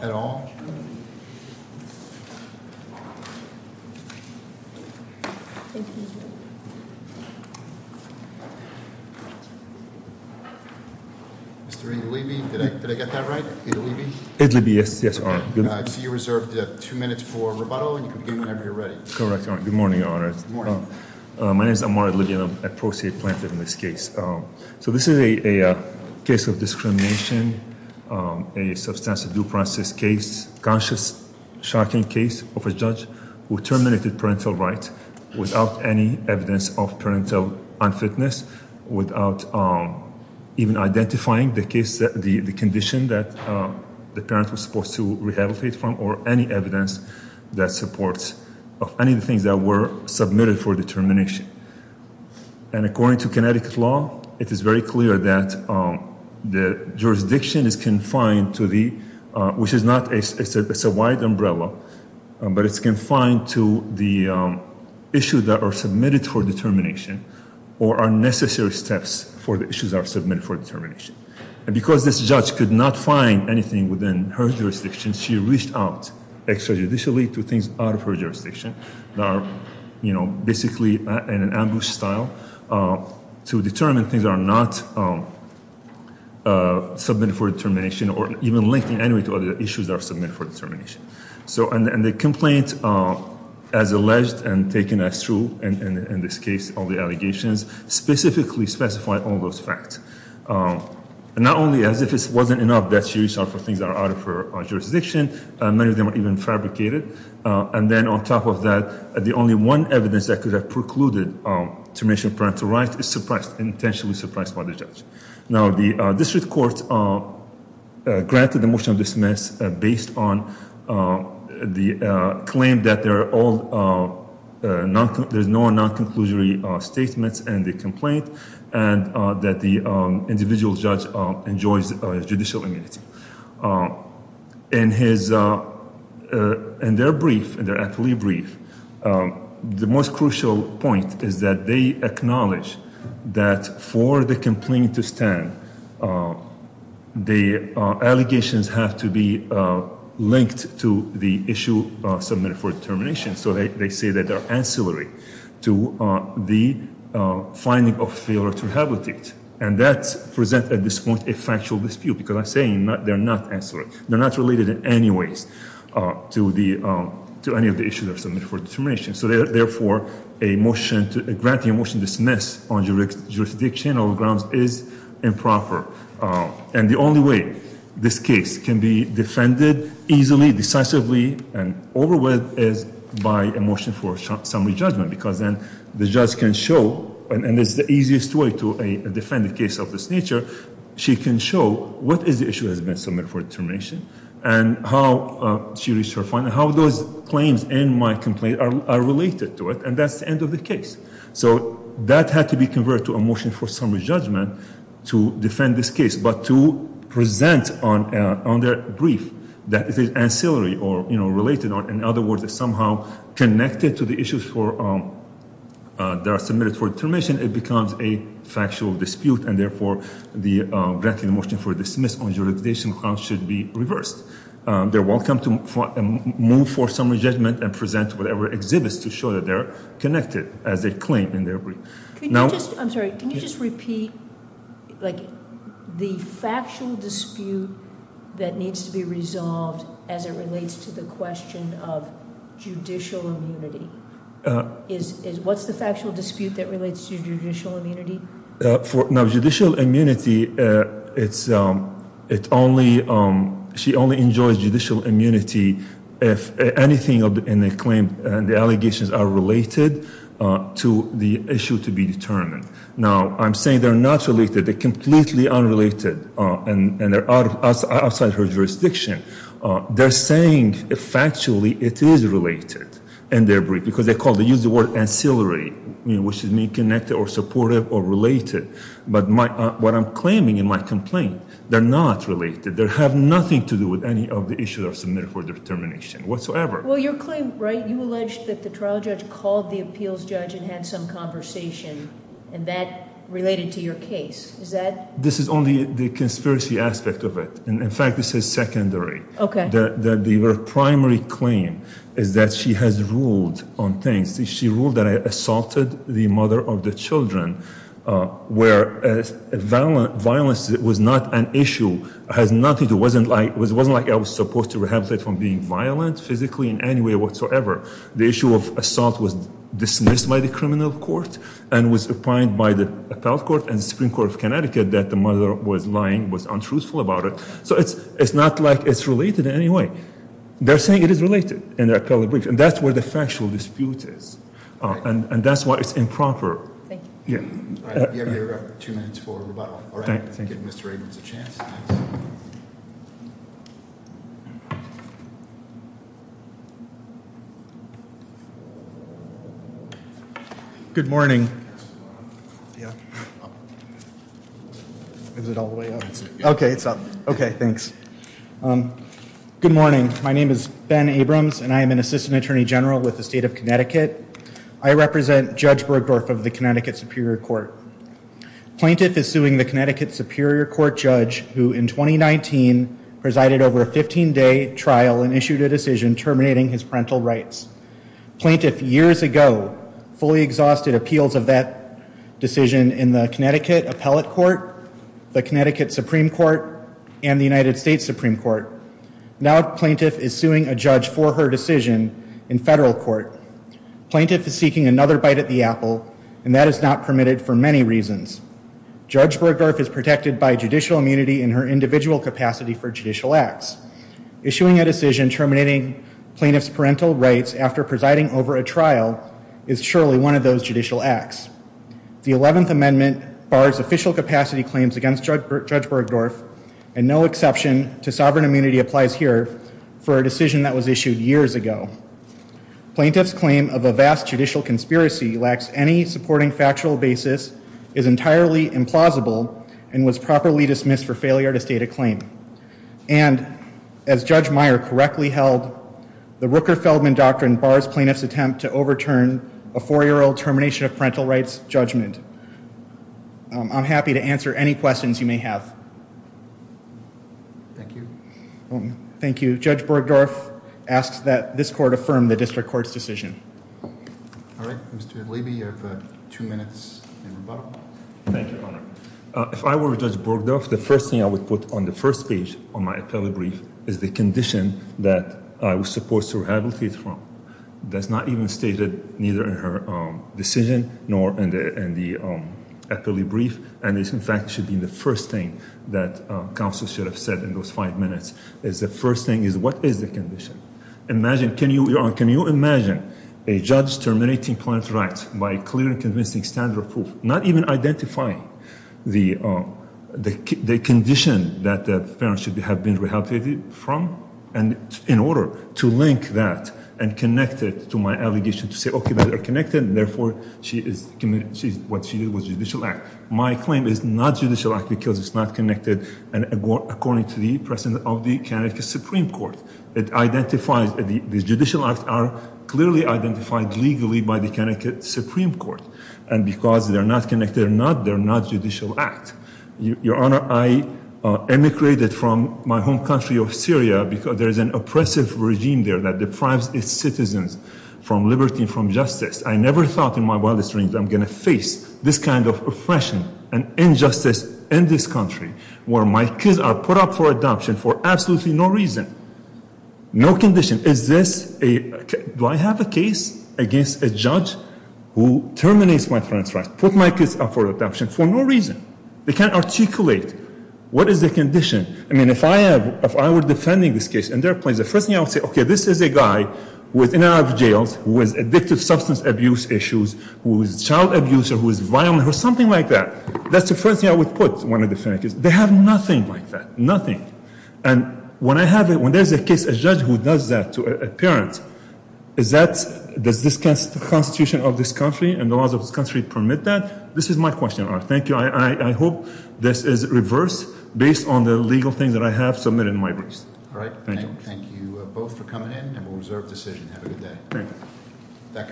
at all? Mr. Idlibi, did I get that right? Idlibi? Idlibi, yes, yes, Your Honor. So you reserved two minutes for rebuttal, and you can begin whenever you're ready. Correct, Your Honor. Good morning, Your Honor. Good morning. My name is Ammar Idlibi, and I'm a case of discrimination, a substantive due process case, conscious, shocking case of a judge who terminated parental rights without any evidence of parental unfitness, without even identifying the case, the condition that the parent was supposed to rehabilitate from or any evidence that supports of any of the things that were submitted for determination. And according to Connecticut law, it is very clear that the jurisdiction is confined to the, which is not, it's a wide umbrella, but it's confined to the issues that are submitted for determination or are necessary steps for the issues that are submitted for determination. And because this judge could not find anything within her jurisdiction, she reached out extrajudicially to things out of her jurisdiction that are, you know, basically in an ambush style to determine things that are not submitted for determination or even linked in any way to other issues that are submitted for determination. So, and the complaint, as alleged and taken as true in this case, all the allegations, specifically specify all those facts. And not only as if it wasn't enough that she reached out for things that are out of her jurisdiction, many of them are even fabricated. And then on top of that, the only one evidence that could have precluded termination of parental rights is suppressed, intentionally suppressed by the judge. Now, the district court granted the motion of dismiss based on the claim that there are all, there's no non-conclusory statements in the complaint and that the individual judge enjoys judicial immunity. In his brief, in their appellee brief, the most crucial point is that they acknowledge that for the complaint to stand, the allegations have to be linked to the issue submitted for determination. So they say that they're ancillary to the finding of failure to rehabilitate. And that presents at this point a factual dispute because I'm saying they're not ancillary. They're not related in any way to any of the issues that are submitted for determination. So therefore, a motion, granting a motion to dismiss on jurisdiction or grounds is improper. And the only way this case can be defended easily, decisively, and over with is by a motion for summary judgment. Because then the judge can show, and it's the easiest way to defend a case of this nature, she can show what is the issue that has been submitted for determination and how she reached her final, how those claims in my complaint are related to it. And that's the end of the case. So that had to be converted to a motion for summary judgment to defend this case, but to present on their brief that is ancillary or, you know, related or, in other words, somehow connected to the issues for, that are submitted for determination, it becomes a factual dispute. And therefore, the granting motion for dismiss on jurisdiction grounds should be reversed. They're welcome to move for summary judgment and present whatever exhibits to show that they're connected as they claim in their brief. Can you just, I'm sorry, can you just repeat, like, the factual dispute that needs to be resolved as it relates to the question of judicial immunity? What's the factual dispute that relates to judicial immunity? Now, judicial immunity, it's only, she only enjoys judicial immunity if anything in the claim, the allegations are related to the issue to be determined. Now, I'm saying they're not related, they're completely unrelated, and they're outside her jurisdiction. They're saying factually it is related in their word, ancillary, which is meaning connected or supportive or related. But what I'm claiming in my complaint, they're not related. They have nothing to do with any of the issues that are submitted for determination whatsoever. Well, your claim, right, you alleged that the trial judge called the appeals judge and had some conversation, and that related to your case. Is that? This is only the conspiracy aspect of it. And in fact, this is secondary. Okay. The primary claim is that she has ruled on things. She ruled that I assaulted the mother of the children, where violence was not an issue, has nothing to do, wasn't like I was supposed to rehabilitate from being violent physically in any way whatsoever. The issue of assault was dismissed by the criminal court and was applied by the appellate court and Supreme Court of Connecticut that the mother was lying, was untruthful about it. So it's not like it's related in any way. They're saying it is related in their appellate brief, and that's where the factual dispute is. And that's why it's improper. Yeah. All right. You have your two minutes for rebuttal. All right. I'll give Mr. Abrams a chance. Good morning. Yeah. Is it all the way up? Okay. It's up. Okay. Thanks. Good morning. My name is Ben Abrams, and I am an assistant attorney general with the state of Connecticut. I represent Judge Bergdorf of the Connecticut Superior Court. Plaintiff is suing the Connecticut Superior Court judge who in 2019 presided over a 15-day trial and issued a decision terminating his parental rights. Plaintiff years ago fully exhausted appeals of that decision in the Connecticut appellate court, the Connecticut Supreme Court, and the United States Supreme Court. Now plaintiff is suing a judge for her decision in federal court. Plaintiff is seeking another bite at the apple, and that is not permitted for many reasons. Judge Bergdorf is protected by judicial immunity in her individual capacity for judicial acts. Issuing a terminating plaintiff's parental rights after presiding over a trial is surely one of those judicial acts. The 11th Amendment bars official capacity claims against Judge Bergdorf, and no exception to sovereign immunity applies here for a decision that was issued years ago. Plaintiff's claim of a vast judicial conspiracy lacks any supporting factual basis, is entirely implausible, and was properly dismissed for failure to state a claim. And as Judge Meyer correctly held, the Rooker-Feldman doctrine bars plaintiff's attempt to overturn a four-year-old termination of parental rights judgment. I'm happy to answer any questions you may have. Thank you. Thank you. Judge Bergdorf asks that this court affirm the court's decision. If I were Judge Bergdorf, the first thing I would put on the first page on my appellate brief is the condition that I was supposed to rehabilitate from. That's not even stated neither in her decision nor in the appellate brief, and this in fact should be the first thing that counsel should have said in those five minutes, is the first thing is what is the condition? Imagine, can you imagine a judge terminating parental rights by clearly convincing standard of proof, not even identifying the condition that the parent should have been rehabilitated from, and in order to link that and connect it to my allegation to say, okay, they're connected, therefore what she did was judicial act. My claim is not judicial act because it's not connected, and according to the presence of the Connecticut Supreme Court, it identifies the judicial acts are clearly identified legally by the Connecticut Supreme Court, and because they're not connected or not, they're not judicial act. Your Honor, I emigrated from my home country of Syria because there is an oppressive regime there that deprives its citizens from liberty and from justice. I never thought in my wildest dreams I'm going to face this kind of oppression and injustice in this country, where my kids are put up for adoption for absolutely no reason, no condition. Is this a, do I have a case against a judge who terminates my parents' rights, put my kids up for adoption for no reason? They can't articulate what is the condition. I mean, if I have, if I were defending this case, and there are points, the first thing I would say, okay, this is a guy who is in and out of jails, who has addictive substance abuse issues, who is a child abuser, who is violent, or something like that. That's the first thing I would put when I defend a case. They have nothing like that, nothing. And when I have it, when there's a case, a judge who does that to a parent, is that, does this constitution of this country and the laws of this country permit that? This is my question, Your Honor. Thank you. I hope this is reversed based on the legal things that I have submitted in my briefs. All right, thank you both for coming in, and we'll reserve decision. Have a good day.